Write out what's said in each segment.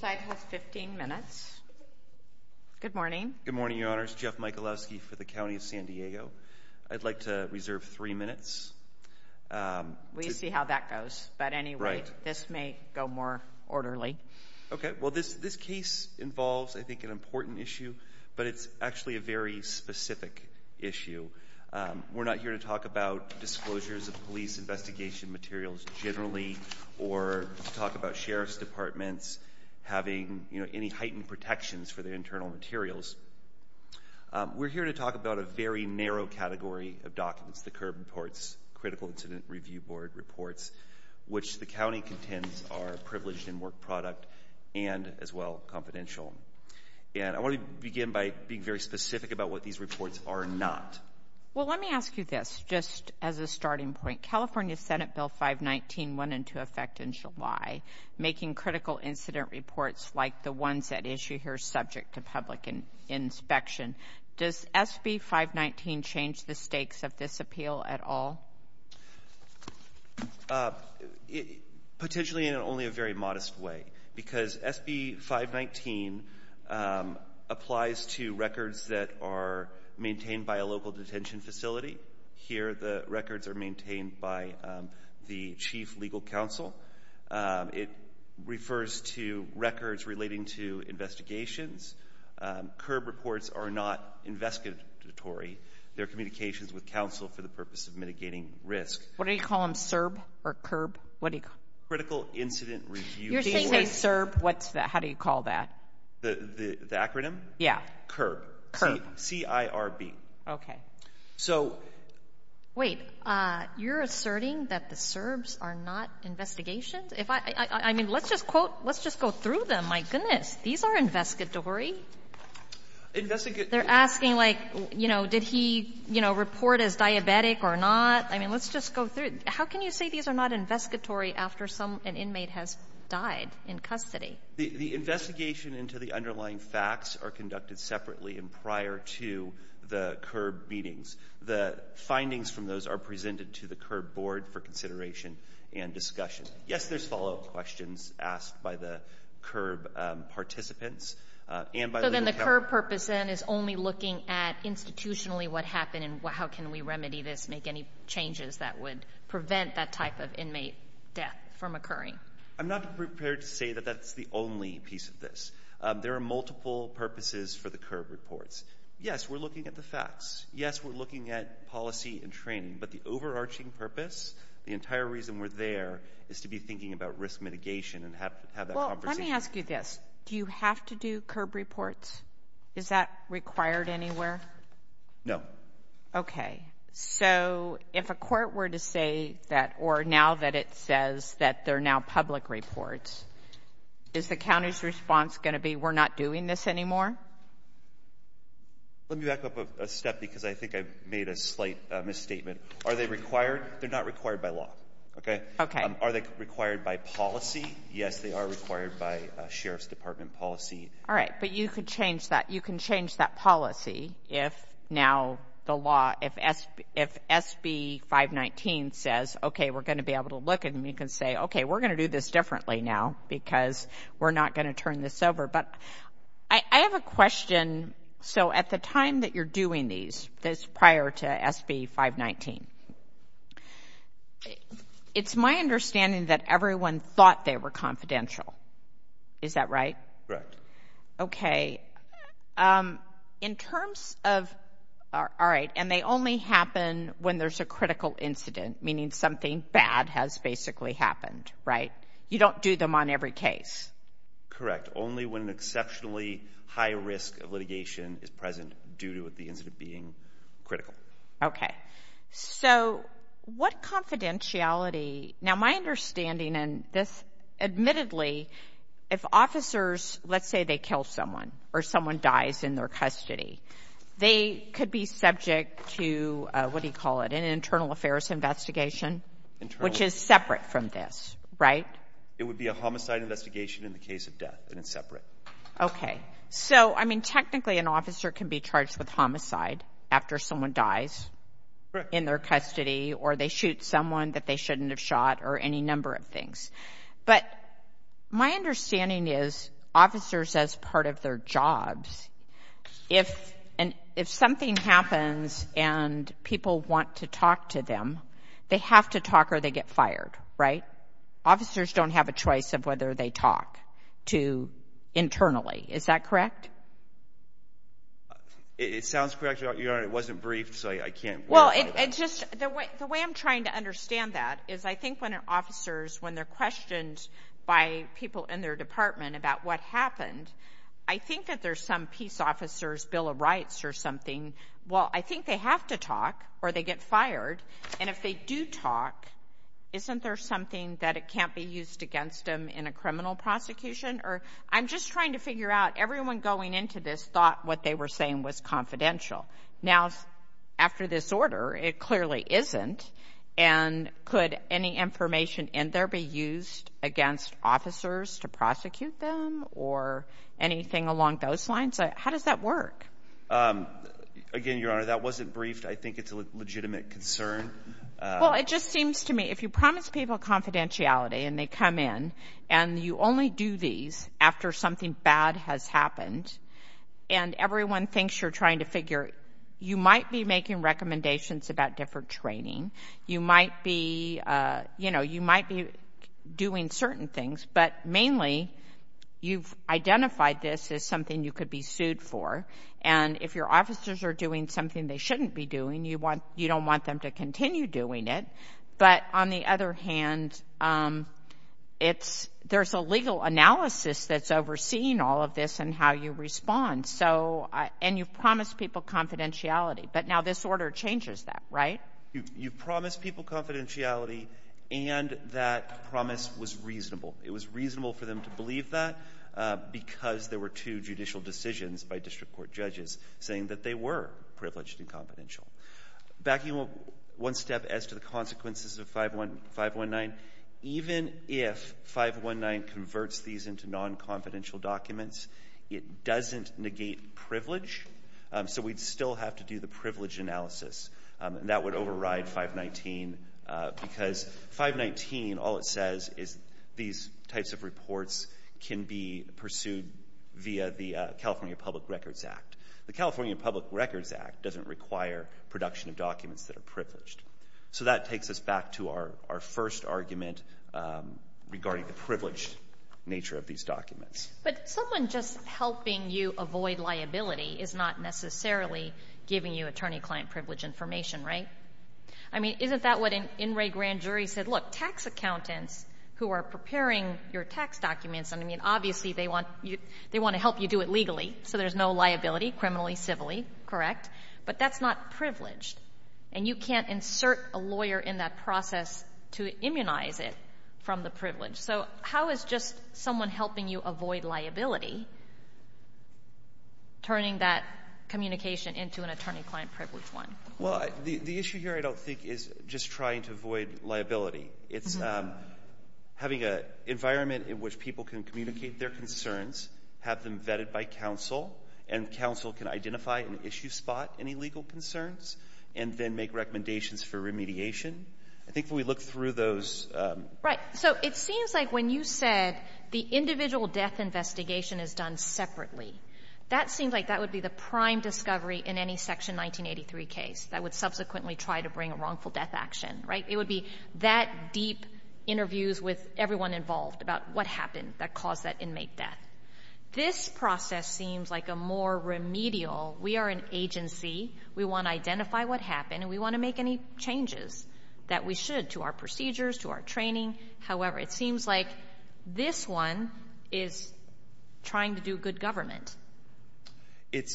15 minutes. Good morning. Good morning, Your Honors. Jeff Michalowski for the County of San Diego. I'd like to reserve three minutes. We see how that goes. But anyway, this may go more orderly. Okay, well, this this case involves, I think, an important issue, but it's actually a very specific issue. We're not here to talk about disclosures of police investigation materials generally, or talk about sheriff's departments having, you know, any heightened protections for their internal materials. We're here to talk about a very narrow category of documents, the curb reports, critical incident review board reports, which the county contends are privileged in work product, and as well confidential. And I want to begin by being very specific about what these reports are not. Well, let me ask you this, just as a starting point, California Senate Bill 519 went into effect in July, making critical incident reports like the ones that issue here subject to public inspection. Does SB 519 change the stakes of this appeal at all? Potentially in only a very modest way, because SB 519 applies to records that are maintained by a local detention facility. Here, the records are maintained by the chief legal counsel. It refers to records relating to investigations. Curb reports are not investigatory. They're communications with counsel for the purpose of mitigating risk. What do you call them, CIRB or curb? What do you call them? Critical incident review board. You're saying CIRB. What's that? How do you call that? The acronym? Yeah. CIRB. CIRB. C-I-R-B. Okay. So — Wait. You're asserting that the CIRBs are not investigations? If I — I mean, let's just quote — let's just go through them. My goodness. These are investigatory? Investigatory — They're asking, like, you know, did he, you know, report as diabetic or not? I mean, let's just go through. How can you say these are not investigatory after some — an inmate has died in custody? The investigation into the underlying facts are conducted separately and prior to the CIRB meetings. The findings from those are presented to the CIRB board for consideration and discussion. Yes, there's follow-up questions asked by the CIRB participants and by — So then the CIRB purpose, then, is only looking at institutionally what happened and how can we remedy this, make any changes that would prevent that type of inmate death from occurring? I'm not prepared to say that that's the only piece of this. There are multiple purposes for the CIRB reports. Yes, we're looking at the facts. Yes, we're looking at policy and training. But the overarching purpose, the entire reason we're there, is to be thinking about risk mitigation and have that conversation. Well, let me ask you this. Do you have to do CIRB reports? Is that required anywhere? No. Okay. So if a court were to say that — or now that it says that they're now public CIRB reports, is the county's response going to be, we're not doing this anymore? Let me back up a step because I think I've made a slight misstatement. Are they required? They're not required by law. Okay. Are they required by policy? Yes, they are required by Sheriff's Department policy. All right. But you could change that. You can change that policy if now the law — if SB 519 says, okay, we're going to be able to look at them, you can say, okay, we're going to do this differently now because we're not going to turn this over. But I have a question. So at the time that you're doing these, this prior to SB 519, it's my understanding that everyone thought they were confidential. Is that right? Correct. Okay. In terms of — all right. And they only happen when there's a critical incident, meaning something bad has basically happened, right? You don't do them on every case. Correct. Only when an exceptionally high risk of litigation is present due to the incident being critical. Okay. So what confidentiality — now, my understanding in this, admittedly, if officers, let's say they kill someone or someone dies in their custody, they could be subject to, what do you call it, an internal affairs investigation, which is separate from this, right? It would be a homicide investigation in the case of death, and it's separate. Okay. So, I mean, technically, an officer can be charged with homicide after someone dies in their custody or they shoot someone that they shouldn't have shot or any number of things. But my understanding is officers, as part of their jobs, if something happens and people want to talk to them, they have to talk or they get fired, right? Officers don't have a choice of whether they talk to — internally. Is that correct? It sounds correct, Your Honor. It wasn't briefed, so I can't verify that. Well, it's just — the way I'm trying to understand that is I think when officers, when they're questioned by people in their department about what happened, I think that whether some peace officer's Bill of Rights or something, well, I think they have to talk or they get fired. And if they do talk, isn't there something that it can't be used against them in a criminal prosecution? Or I'm just trying to figure out — everyone going into this thought what they were saying was confidential. Now, after this order, it clearly isn't. And could any information in there be used against officers to prosecute them or anything along those lines? How does that work? Again, Your Honor, that wasn't briefed. I think it's a legitimate concern. Well, it just seems to me if you promise people confidentiality and they come in and you only do these after something bad has happened and everyone thinks you're trying to figure — you might be making recommendations about different training. You might be, you know, you might be doing certain things. But mainly, you've identified this as something you could be sued for. And if your officers are doing something they shouldn't be doing, you don't want them to continue doing it. But on the other hand, it's — there's a legal analysis that's overseeing all of this and how you respond. So — and you've promised people confidentiality. But now this order changes that, right? You've promised people confidentiality, and that promise was reasonable. It was reasonable for them to believe that because there were two judicial decisions by district court judges saying that they were privileged and confidential. Backing up one step as to the consequences of 519, even if 519 converts these into non-confidential documents, it doesn't negate privilege. So we'd still have to do the privilege analysis. That would override 519 because 519, all it says is these types of reports can be pursued via the California Public Records Act. The California Public Records Act doesn't require production of documents that are privileged. So that takes us back to our first argument regarding the privileged nature of these documents. But someone just helping you avoid liability is not necessarily giving you attorney-client privilege information, right? I mean, isn't that what an in-ray grand jury said? Look, tax accountants who are preparing your tax documents — and I mean, obviously, they want to help you do it legally, so there's no liability, criminally, civilly, correct? But that's not privileged, and you can't insert a lawyer in that process to immunize it from the privilege. So how is just someone helping you avoid liability turning that communication into an attorney-client privilege one? Well, the issue here, I don't think, is just trying to avoid liability. It's having an environment in which people can communicate their concerns, have them vetted by counsel, and counsel can identify an issue spot, any legal concerns, and then make recommendations for remediation. I think if we look through those — Right. So it seems like when you said the individual death investigation is done separately, that seems like that would be the prime discovery in any Section 1983 case that would subsequently try to bring a wrongful death action, right? It would be that deep interviews with everyone involved about what happened that caused that inmate death. This process seems like a more remedial — we are an agency, we want to identify what happened, and we want to make any changes that we should to our procedures, to our training. However, it seems like this one is trying to do good government,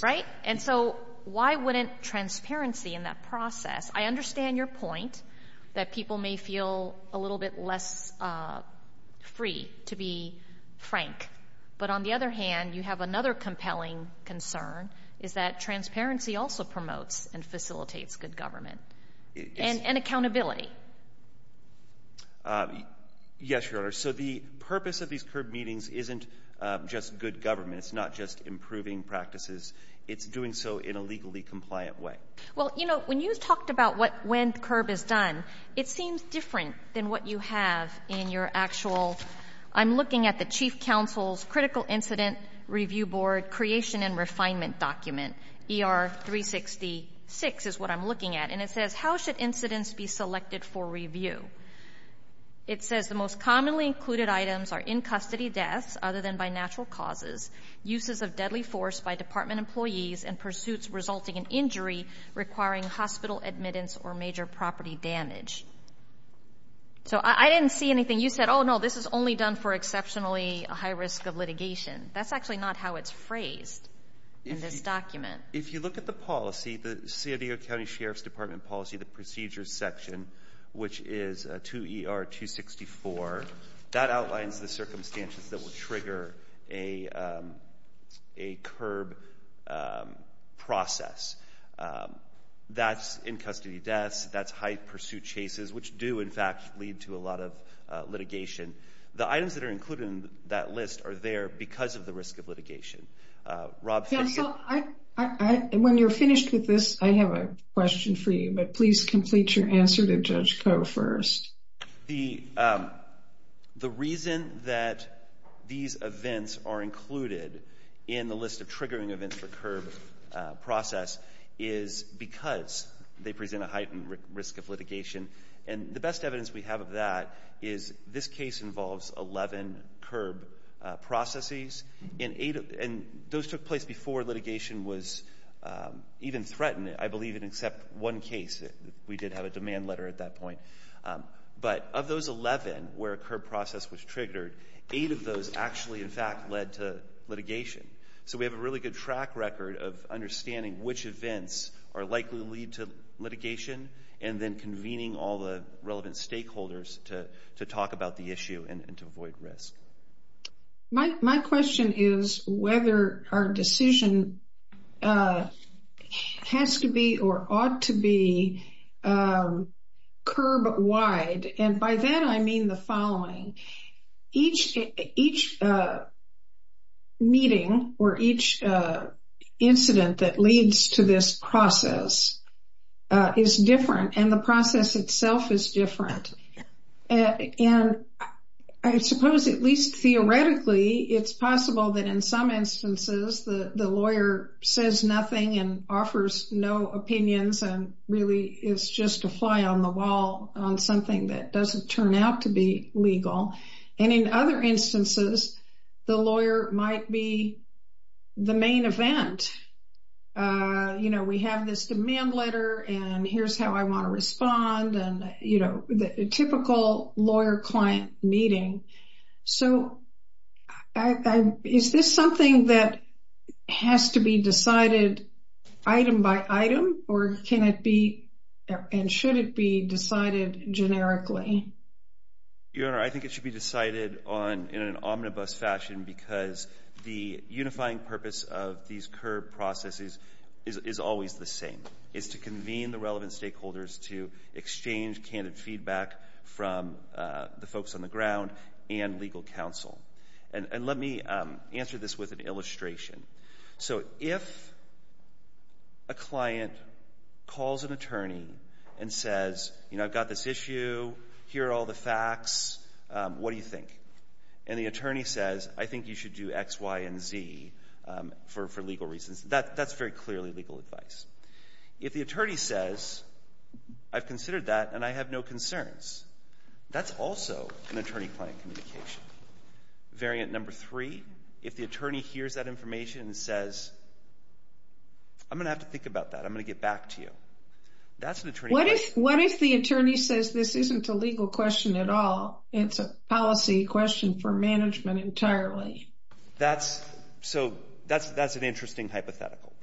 right? And so why wouldn't transparency in that process — I understand your point that people may feel a little bit less free, to be frank. But on the other hand, you have another compelling concern, is that transparency also promotes and facilitates good government, and accountability. Yes, Your Honor. So the purpose of these curb meetings isn't just good government. It's not just improving practices. It's doing so in a legally compliant way. Well, you know, when you talked about what — when curb is done, it seems different than what you have in your actual — I'm looking at the Chief Counsel's Critical Incident Review Board Creation and Refinement document, ER-366 is what I'm looking at, and it says, how should incidents be selected for review? It says, the most commonly included items are in-custody deaths, other than by natural causes, uses of deadly force by department employees, and pursuits resulting in injury requiring hospital admittance or major property damage. So I didn't see anything — you said, oh, no, this is only done for exceptionally high risk of litigation. That's actually not how it's phrased in this document. If you look at the policy, the San Diego County Sheriff's Department policy, the procedures section, which is 2ER-264, that outlines the circumstances that will trigger a curb process. That's in-custody deaths. That's high pursuit chases, which do, in fact, lead to a lot of litigation. The items that are included in that list are there because of the risk of litigation. Yeah, so, when you're finished with this, I have a question for you, but please complete your answer to Judge Koh first. The reason that these events are included in the list of triggering events for curb process is because they present a heightened risk of litigation. And the best evidence we have of that is this case involves 11 curb processes, and those took place before litigation was even threatened, I believe, except one case. We did have a demand letter at that point. But of those 11 where a curb process was triggered, 8 of those actually, in fact, led to litigation. So we have a really good track record of understanding which events are likely to lead to litigation, and then convening all the relevant stakeholders to talk about the issue and to avoid risk. My question is whether our decision has to be or ought to be curb-wide. And by that I mean the following. Each meeting or each incident that leads to this process is different, and the process itself is different. And I suppose, at least theoretically, it's possible that in some instances, the lawyer says nothing and offers no opinions and really is just a fly on the wall on something that doesn't turn out to be legal. And in other instances, the lawyer might be the main event. You know, we have this demand letter, and here's how I want to respond and, you know, the typical lawyer-client meeting. So is this something that has to be decided item by item, or can it be and should it be decided generically? Your Honor, I think it should be decided in an omnibus fashion because the unifying purpose of these curb processes is always the same. It's to convene the relevant stakeholders to exchange candid feedback from the folks on the ground and legal counsel. And let me answer this with an illustration. So if a client calls an attorney and says, you know, I've got this issue, here are all the facts, what do you think? And the attorney says, I think you should do X, Y, and Z for legal reasons, that's very clearly legal advice. If the attorney says, I've considered that and I have no concerns, that's also an attorney-client communication. Variant number three, if the attorney hears that information and says, I'm going to have to think about that, I'm going to get back to you, that's an attorney-client. What if the attorney says this isn't a legal question at all, it's a policy question for management entirely? That's, so that's an interesting hypothetical.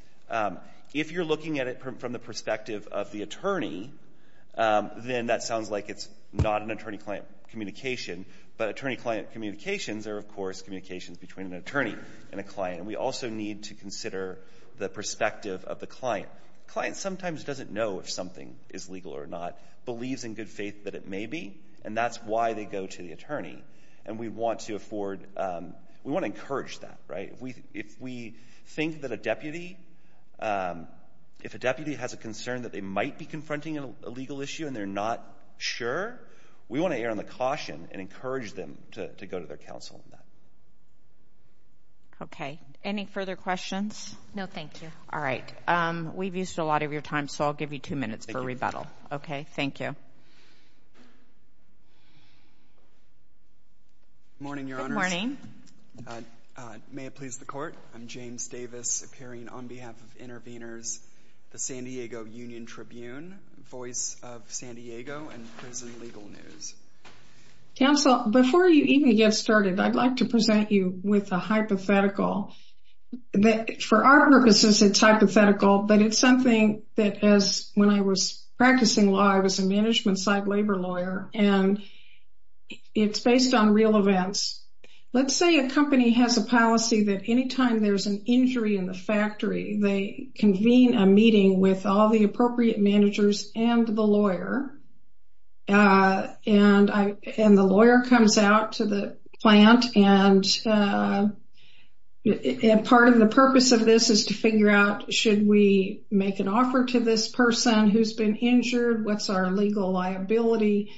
If you're looking at it from the perspective of the attorney, then that sounds like it's not an attorney-client communication, but attorney-client communications are, of course, communications between an attorney and a client. And we also need to consider the perspective of the client. The client sometimes doesn't know if something is legal or not, believes in good faith that it may be, and that's why they go to the attorney. And we want to afford, we want to encourage that, right? If we think that a deputy, if a deputy has a concern that they might be confronting a legal issue and they're not sure, we want to err on the caution and encourage them to go to their counsel on that. Okay. Any further questions? No, thank you. All right. We've used a lot of your time, so I'll give you two minutes for rebuttal. Okay, thank you. Morning, Your Honors. Good morning. May it please the Court, I'm James Davis, appearing on behalf of Interveners, the San Diego Voice of San Diego and Prison Legal News. Counsel, before you even get started, I'd like to present you with a hypothetical that, for our purposes, it's hypothetical, but it's something that, as when I was practicing law, I was a management side labor lawyer, and it's based on real events. Let's say a company has a policy that any time there's an injury in the factory, they convene a meeting with all the appropriate managers and the lawyer, and the lawyer comes out to the plant, and part of the purpose of this is to figure out, should we make an offer to this person who's been injured, what's our legal liability,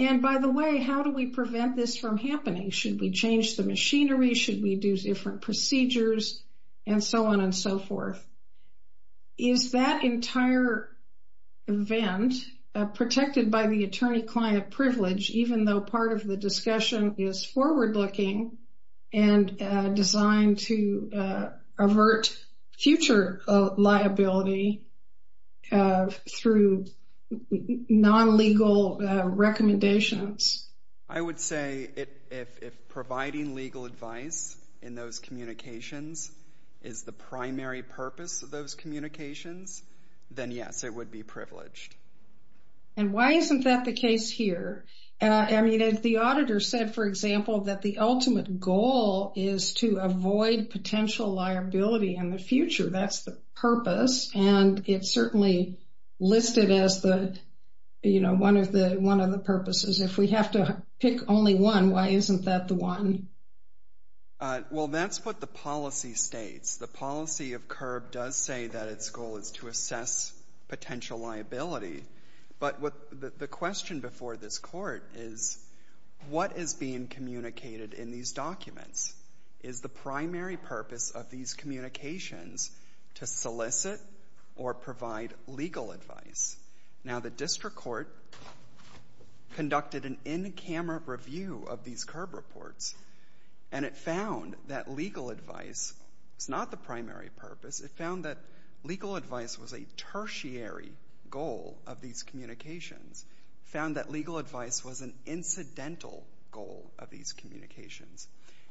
and by the way, how do we prevent this from happening? Should we change the machinery? Should we do different procedures, and so on and so forth? Is that entire event protected by the attorney-client privilege, even though part of the discussion is forward-looking and designed to avert future liability through non-legal recommendations? I would say, if providing legal advice in those communications is the primary purpose of those communications, then yes, it would be privileged. And why isn't that the case here? I mean, if the auditor said, for example, that the ultimate goal is to avoid potential liability in the future, that's the purpose, and it's certainly listed as one of the purposes. If we have to pick only one, why isn't that the one? Well, that's what the policy states. The policy of CURB does say that its goal is to assess potential liability, but the question before this Court is, what is being communicated in these documents? Legal advice is the primary purpose of these communications to solicit or provide legal advice. Now, the District Court conducted an in-camera review of these CURB reports, and it found that legal advice is not the primary purpose. It found that legal advice was a tertiary goal of these communications. It found that legal advice was an incidental goal of these communications.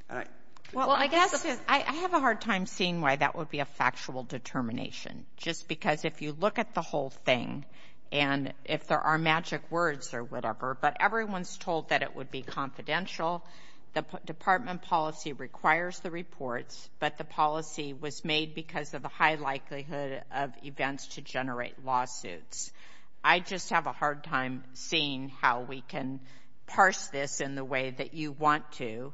All right. Well, I guess I have a hard time seeing why that would be a factual determination, just because if you look at the whole thing, and if there are magic words or whatever, but everyone's told that it would be confidential, the Department policy requires the reports, but the policy was made because of the high likelihood of events to generate lawsuits. I just have a hard time seeing how we can parse this in the way that you want to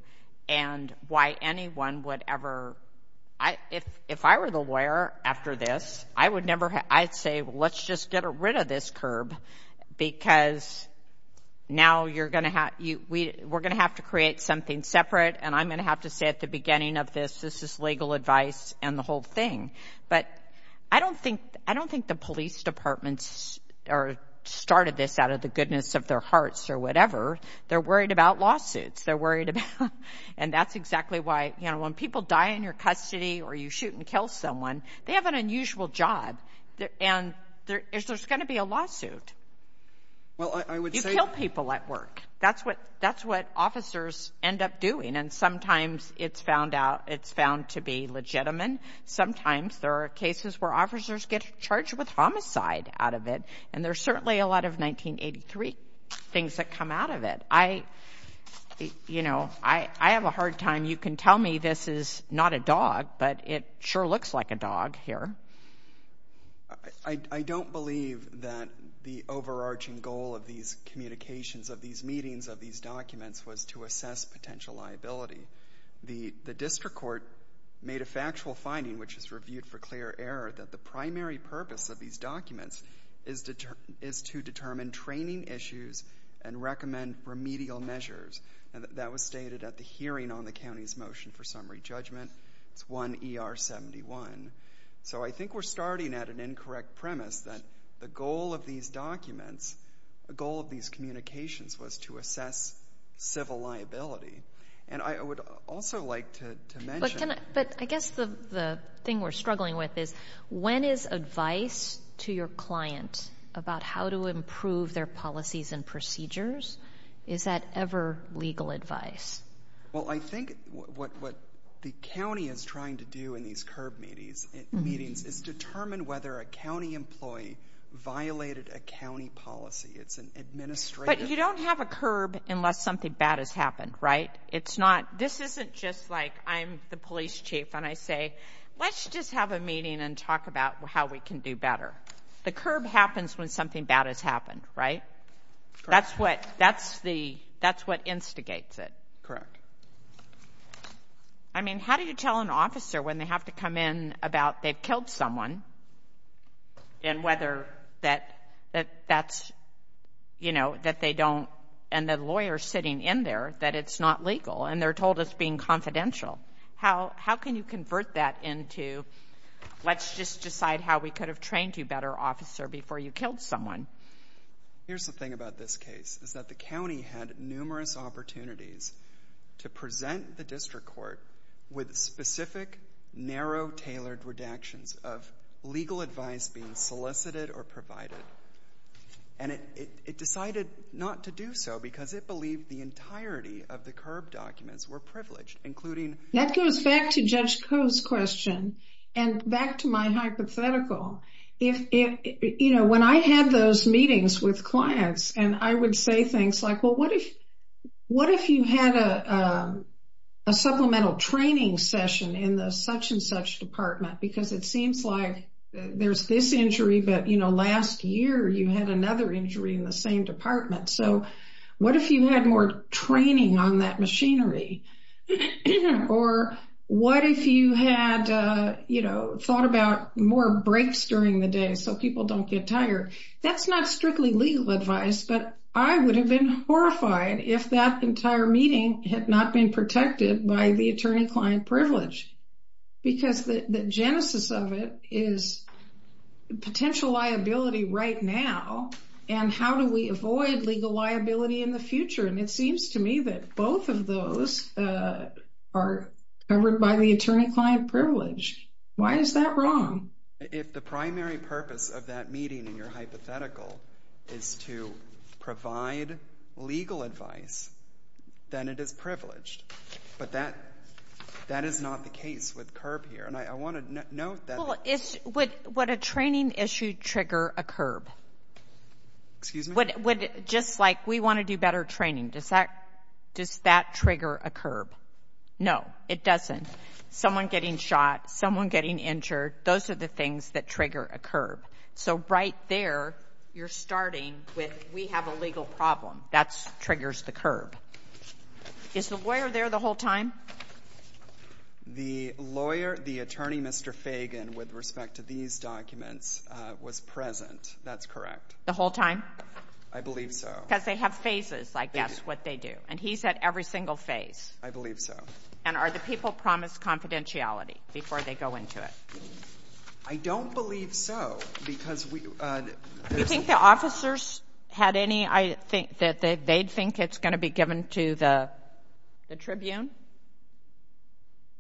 and why anyone would ever—if I were the lawyer after this, I would never—I'd say, well, let's just get rid of this CURB, because now you're going to have—we're going to have to create something separate, and I'm going to have to say at the beginning of this, this is legal advice and the whole thing. But I don't think—I don't think the police departments started this out of the goodness of their hearts or whatever. They're worried about lawsuits. They're worried about—and that's exactly why, you know, when people die in your custody or you shoot and kill someone, they have an unusual job, and there's going to be a lawsuit. Well, I would say— You kill people at work. That's what officers end up doing, and sometimes it's found out—it's found to be legitimate. Sometimes there are cases where officers get charged with homicide out of it, and there's certainly a lot of 1983 things that come out of it. I—you know, I have a hard time—you can tell me this is not a dog, but it sure looks like a dog here. I don't believe that the overarching goal of these communications, of these meetings, of these documents was to assess potential liability. The district court made a factual finding, which is reviewed for clear error, that the primary purpose of these documents is to determine training issues and recommend remedial measures. That was stated at the hearing on the county's motion for summary judgment. It's 1 ER 71. So I think we're starting at an incorrect premise that the goal of these documents, the goal of these communications, was to assess civil liability. And I would also like to mention— But can I—but I guess the thing we're struggling with is, when is advice to your client about how to improve their policies and procedures, is that ever legal advice? Well, I think what the county is trying to do in these curb meetings is determine whether a county employee violated a county policy. It's an administrative— But you don't have a curb unless something bad has happened, right? It's not—this isn't just like I'm the police chief, and I say, let's just have a meeting and talk about how we can do better. The curb happens when something bad has happened, right? Correct. That's what—that's the—that's what instigates it. Correct. I mean, how do you tell an officer when they have to come in about they've killed someone and whether that—that that's, you know, that they don't—and the lawyer's sitting in there that it's not legal, and they're told it's being confidential? How can you convert that into, let's just decide how we could have trained you better, officer, before you killed someone? Here's the thing about this case, is that the county had numerous opportunities to present the district court with specific, narrow, tailored redactions of legal advice being solicited or provided, and it decided not to do so because it believed the entirety of the curb documents were privileged, including— That goes back to Judge Koh's question, and back to my hypothetical. If it—you know, when I had those meetings with clients, and I would say things like, well, what if—what if you had a supplemental training session in the such-and-such department? Because it seems like there's this injury, but, you know, last year you had another injury in the same department. So what if you had more training on that machinery? Or what if you had, you know, thought about more breaks during the day so people don't get tired? That's not strictly legal advice, but I would have been horrified if that entire meeting had not been protected by the attorney-client privilege, because the genesis of it is potential liability right now, and how do we avoid legal liability in the future? And it seems to me that both of those are covered by the attorney-client privilege. Why is that wrong? If the primary purpose of that meeting in your hypothetical is to provide legal advice, then it is privileged. But that is not the case with CURB here. And I want to note that— Well, would a training issue trigger a CURB? Excuse me? Just like we want to do better training, does that trigger a CURB? No, it doesn't. Someone getting shot, someone getting injured, those are the things that trigger a CURB. So right there, you're starting with we have a legal problem. That triggers the CURB. Is the lawyer there the whole time? The lawyer, the attorney, Mr. Fagan, with respect to these documents, was present. That's correct. The whole time? I believe so. Because they have phases, I guess, what they do. And he's at every single phase. I believe so. And are the people promised confidentiality before they go into it? I don't believe so, because we— Do you think the officers had any—they think it's going to be given to the Tribune?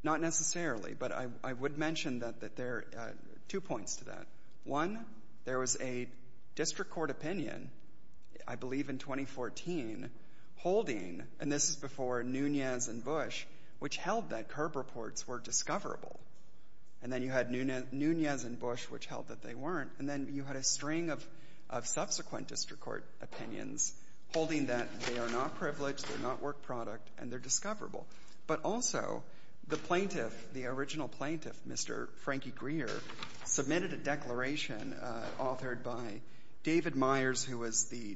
Not necessarily. But I would mention that there are two points to that. One, there was a district court opinion, I believe in 2014, holding—and this is before Nunez and Bush, which held that CURB reports were discoverable. And then you had Nunez and Bush, which held that they weren't. And then you had a string of subsequent district court opinions holding that they are not privileged, they're not work product, and they're discoverable. But also, the plaintiff, the original plaintiff, Mr. Frankie Greer, submitted a declaration authored by David Myers, who was the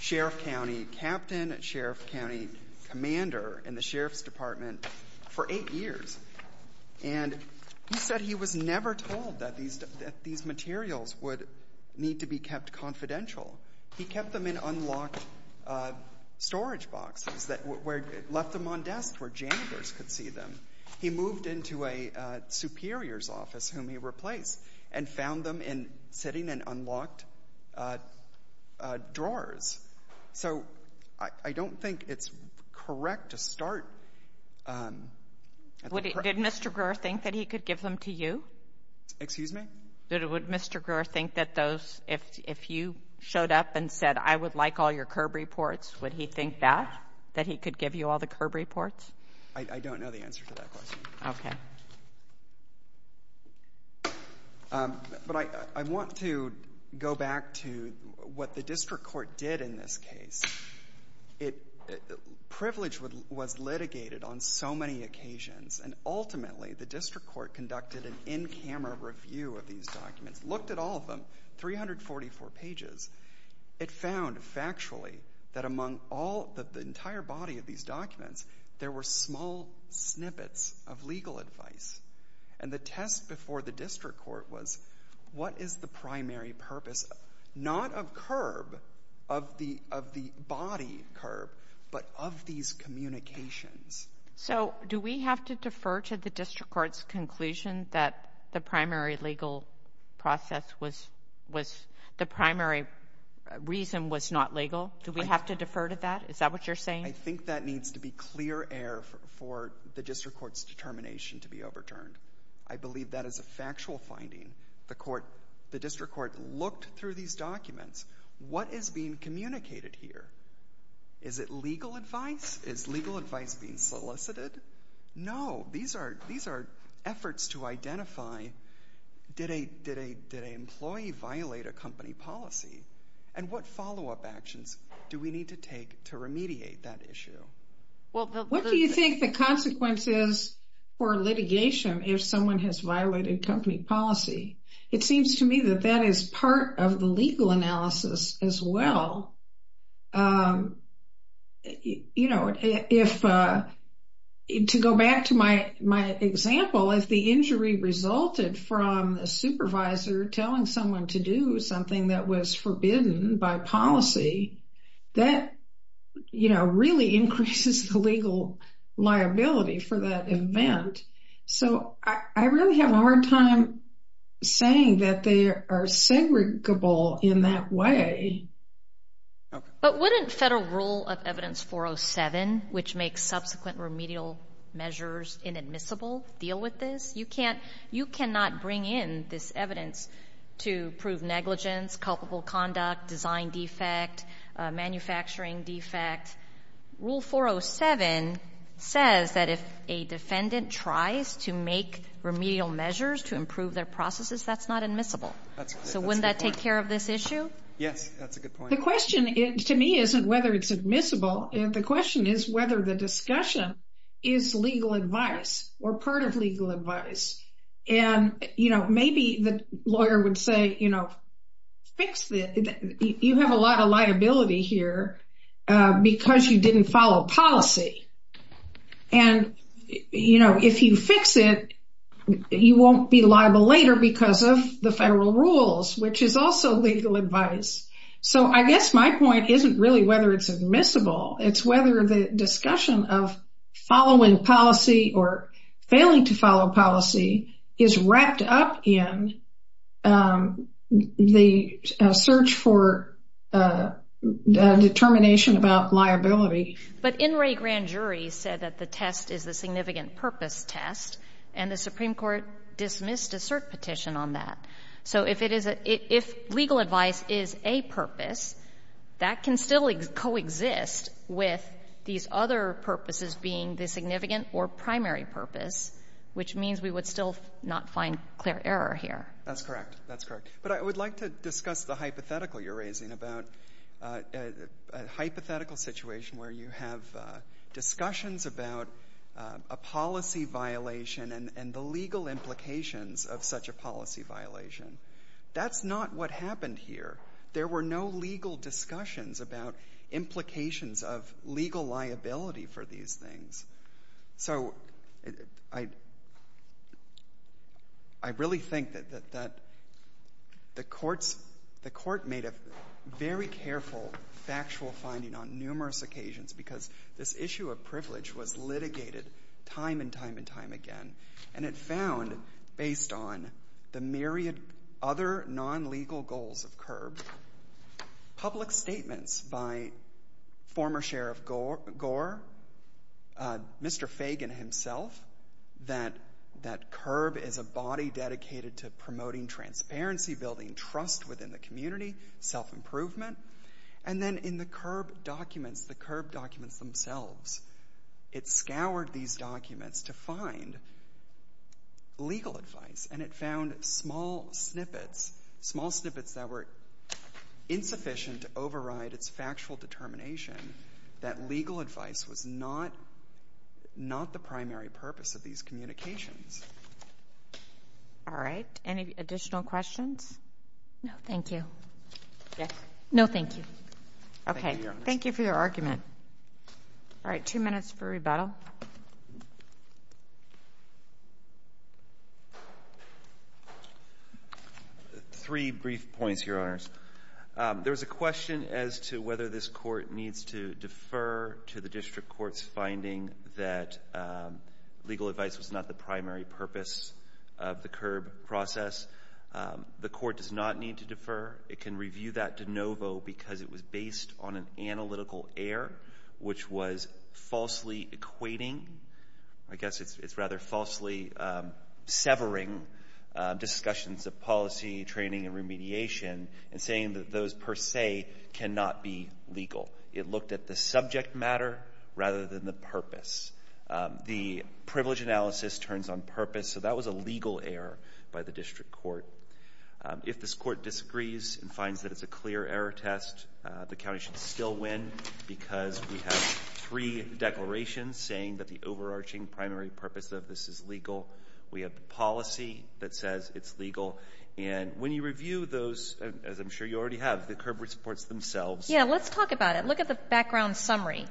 Sheriff County captain and Sheriff County commander in the Sheriff's Department for eight years. And he said he was never told that these materials would need to be kept confidential. He kept them in unlocked storage boxes, left them on desks where janitors could see them. He moved into a superior's office, whom he replaced, and found them sitting in unlocked drawers. So I don't think it's correct to start at the— Did Mr. Greer think that he could give them to you? Excuse me? Would Mr. Greer think that those, if you showed up and said, I would like all your CURB reports, would he think that, that he could give you all the CURB reports? I don't know the answer to that question. Okay. But I want to go back to what the district court did in this case. Privilege was litigated on so many occasions. And ultimately, the district court conducted an in-camera review of these documents, looked at all of them, 344 pages. It found, factually, that among all, the entire body of these documents, there were small snippets of legal advice. And the test before the district court was, what is the primary purpose, not of CURB, of the body CURB, but of these communications? So, do we have to defer to the district court's conclusion that the primary legal process was, the primary reason was not legal? Do we have to defer to that? Is that what you're saying? I think that needs to be clear air for the district court's determination to be overturned. I believe that is a factual finding. The court, the district court looked through these documents. What is being communicated here? Is it legal advice? Is legal advice being solicited? No. These are efforts to identify, did an employee violate a company policy? And what follow-up actions do we need to take to remediate that issue? What do you think the consequences for litigation if someone has violated company policy? It seems to me that that is part of the legal analysis as well. You know, if, to go back to my example, if the injury resulted from a supervisor telling someone to do something that was forbidden by policy, that, you know, really increases the legal liability for that event. So I really have a hard time saying that they are segregable in that way. But wouldn't federal rule of evidence 407, which makes subsequent remedial measures inadmissible, deal with this? You cannot bring in this evidence to prove negligence, culpable conduct, design defect, manufacturing defect. Rule 407 says that if a defendant tries to make remedial measures to improve their processes, that's not admissible. So wouldn't that take care of this issue? Yes, that's a good point. The question to me isn't whether it's admissible. The question is whether the discussion is legal advice or part of legal advice. And, you know, maybe the lawyer would say, you know, fix this. You have a lot of liability here because you didn't follow policy. And, you know, if you fix it, you won't be liable later because of the federal rules, which is also legal advice. So I guess my point isn't really whether it's admissible. It's whether the discussion of following policy or failing to follow policy is wrapped up in the search for determination about liability. But NRA grand jury said that the test is the significant purpose test, and the Supreme Court dismissed a cert petition on that. So if it is a — if legal advice is a purpose, that can still coexist with these other purposes being the significant or primary purpose, which means we would still not find clear error here. That's correct. That's correct. But I would like to discuss the hypothetical you're raising about a hypothetical situation where you have discussions about a policy violation and the legal implications of such a policy violation. That's not what happened here. There were no legal discussions about implications of legal liability for these things. So I really think that the courts — the court made a very careful factual finding on numerous occasions because this issue of privilege was litigated time and time and time again. And it found, based on the myriad other non-legal goals of CURB, public statements by former Sheriff Gore, Mr. Fagan himself, that CURB is a body dedicated to promoting transparency, building trust within the community, self-improvement. And then in the CURB documents, the CURB documents themselves, it scoured these documents to find legal advice, and it found small snippets, small snippets that were insufficient to override its factual determination that legal advice was not the primary purpose of these communications. All right. Any additional questions? No, thank you. Okay. Thank you for your argument. All right. Two minutes for rebuttal. Three brief points, Your Honors. There was a question as to whether this Court needs to defer to the district court's finding that legal advice was not the primary purpose of the CURB process. The Court does not need to defer. It can review that de novo because it was based on an analytical error, which was falsely equating. I guess it's rather falsely severing discussions of policy, training, and remediation and saying that those per se cannot be legal. It looked at the subject matter rather than the purpose. The privilege analysis turns on purpose, so that was a legal error by the district court. If this court disagrees and finds that it's a clear error test, the county should still win because we have three declarations saying that the overarching primary purpose of this is legal. We have the policy that says it's legal. And when you review those, as I'm sure you already have, the CURB reports themselves. Yeah, let's talk about it. Look at the background summary.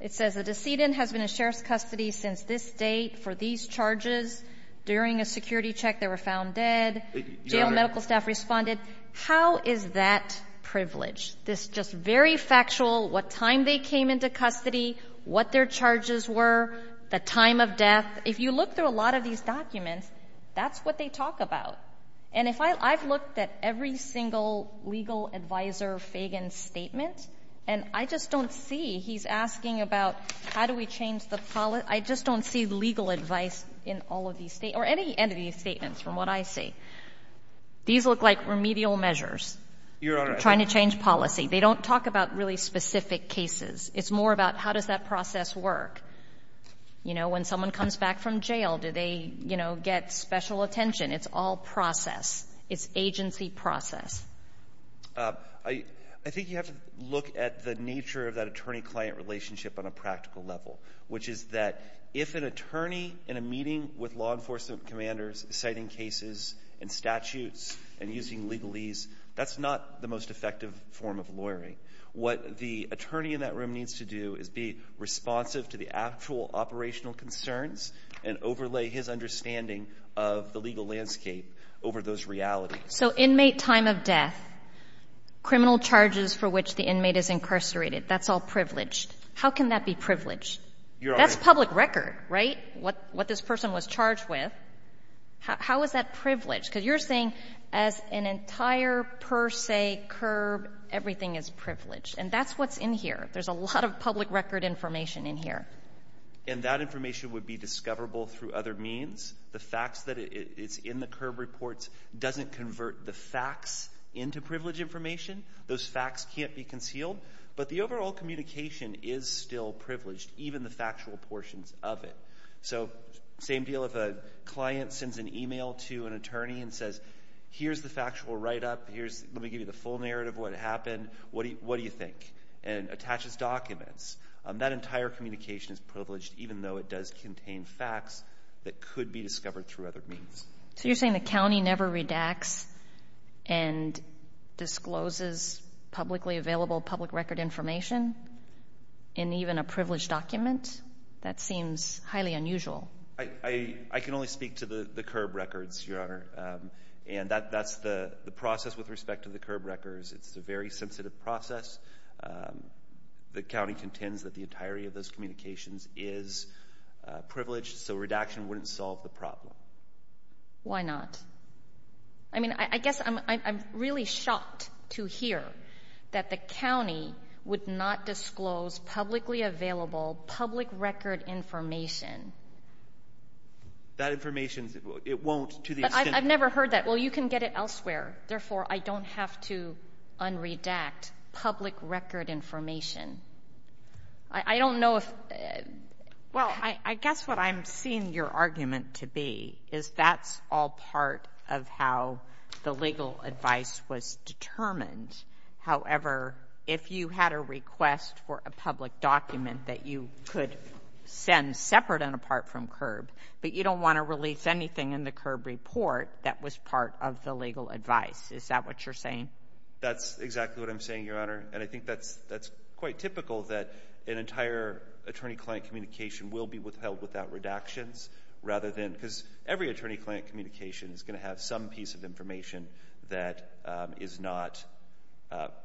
It says the decedent has been in sheriff's custody since this date for these charges. During a security check, they were found dead. Jail medical staff responded. How is that privileged? This just very factual, what time they came into custody, what their charges were, the time of death. If you look through a lot of these documents, that's what they talk about. And if I've looked at every single legal advisor Fagan statement, and I just don't see, he's asking about how do we change the policy, I just don't see legal advice in all of these statements, or any end of these statements from what I see. These look like remedial measures, trying to change policy. They don't talk about really specific cases. It's more about how does that process work. You know, when someone comes back from jail, do they, you know, get special attention? It's all process. It's agency process. I think you have to look at the nature of that attorney-client relationship on a practical level, which is that if an attorney in a meeting with law enforcement commanders citing cases and statutes and using legalese, that's not the most effective form of lawyering. What the attorney in that room needs to do is be responsive to the actual operational concerns and overlay his understanding of the legal landscape over those realities. So inmate time of death, criminal charges for which the inmate is incarcerated, that's all privileged. How can that be privileged? You're right. That's public record, right, what this person was charged with. How is that privileged? Because you're saying as an entire per se curb, everything is privileged. And that's what's in here. There's a lot of public record information in here. And that information would be discoverable through other means. The facts that it's in the curb reports doesn't convert the facts into privilege information. Those facts can't be concealed. But the overall communication is still privileged, even the factual portions of it. So same deal if a client sends an email to an attorney and says, here's the factual write-up. Let me give you the full narrative of what happened. What do you think? And attaches documents. That entire communication is privileged, even though it does contain facts that could be discovered through other means. So you're saying the county never redacts and discloses publicly available public record information in even a privileged document? That seems highly unusual. I can only speak to the curb records, Your Honor. And that's the process with respect to the curb records. It's a very sensitive process. The county contends that the entirety of those communications is privileged, so redaction wouldn't solve the problem. Why not? I mean, I guess I'm really shocked to hear that the county would not disclose publicly available public record information. That information, it won't to the extent that you can get it elsewhere. Therefore, I don't have to unredact public record information. I don't know if ---- Well, I guess what I'm seeing your argument to be is that's all part of how the legal advice was determined. However, if you had a request for a public document that you could send separate and apart from curb, but you don't want to release anything in the curb report that was part of the legal advice, is that what you're saying? That's exactly what I'm saying, Your Honor. And I think that's quite typical that an entire attorney-client communication will be withheld without redactions rather than ---- because every attorney-client communication is going to have some piece of information that is not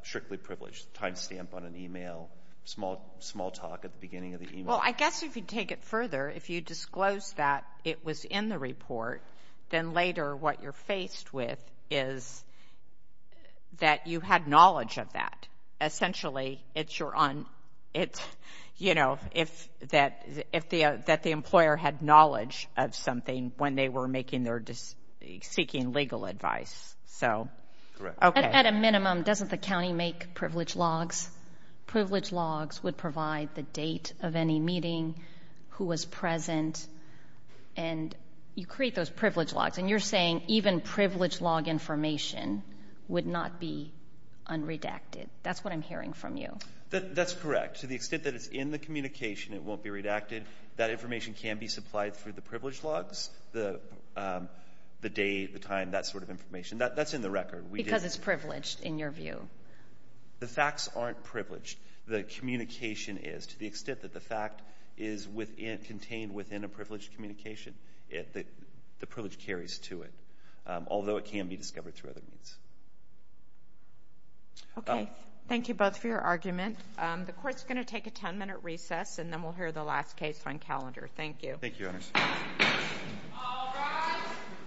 strictly privileged, time stamp on an email, small talk at the beginning of the email. Well, I guess if you take it further, if you disclose that it was in the report, then later what you're faced with is that you had knowledge of that. Essentially, it's your own, you know, if that the employer had knowledge of something when they were seeking legal advice. At a minimum, doesn't the county make privilege logs? Privilege logs would provide the date of any meeting, who was present, and you create those privilege logs, and you're saying even privilege log information would not be unredacted. That's what I'm hearing from you. That's correct. To the extent that it's in the communication, it won't be redacted. That information can be supplied through the privilege logs, the date, the time, that sort of information. That's in the record. Because it's privileged, in your view. The facts aren't privileged. The communication is. To the extent that the fact is contained within a privileged communication, the privilege carries to it, although it can be discovered through other means. Okay. Thank you both for your argument. The Court's going to take a 10-minute recess, and then we'll hear the last case on calendar. Thank you. Thank you, Your Honors. All rise.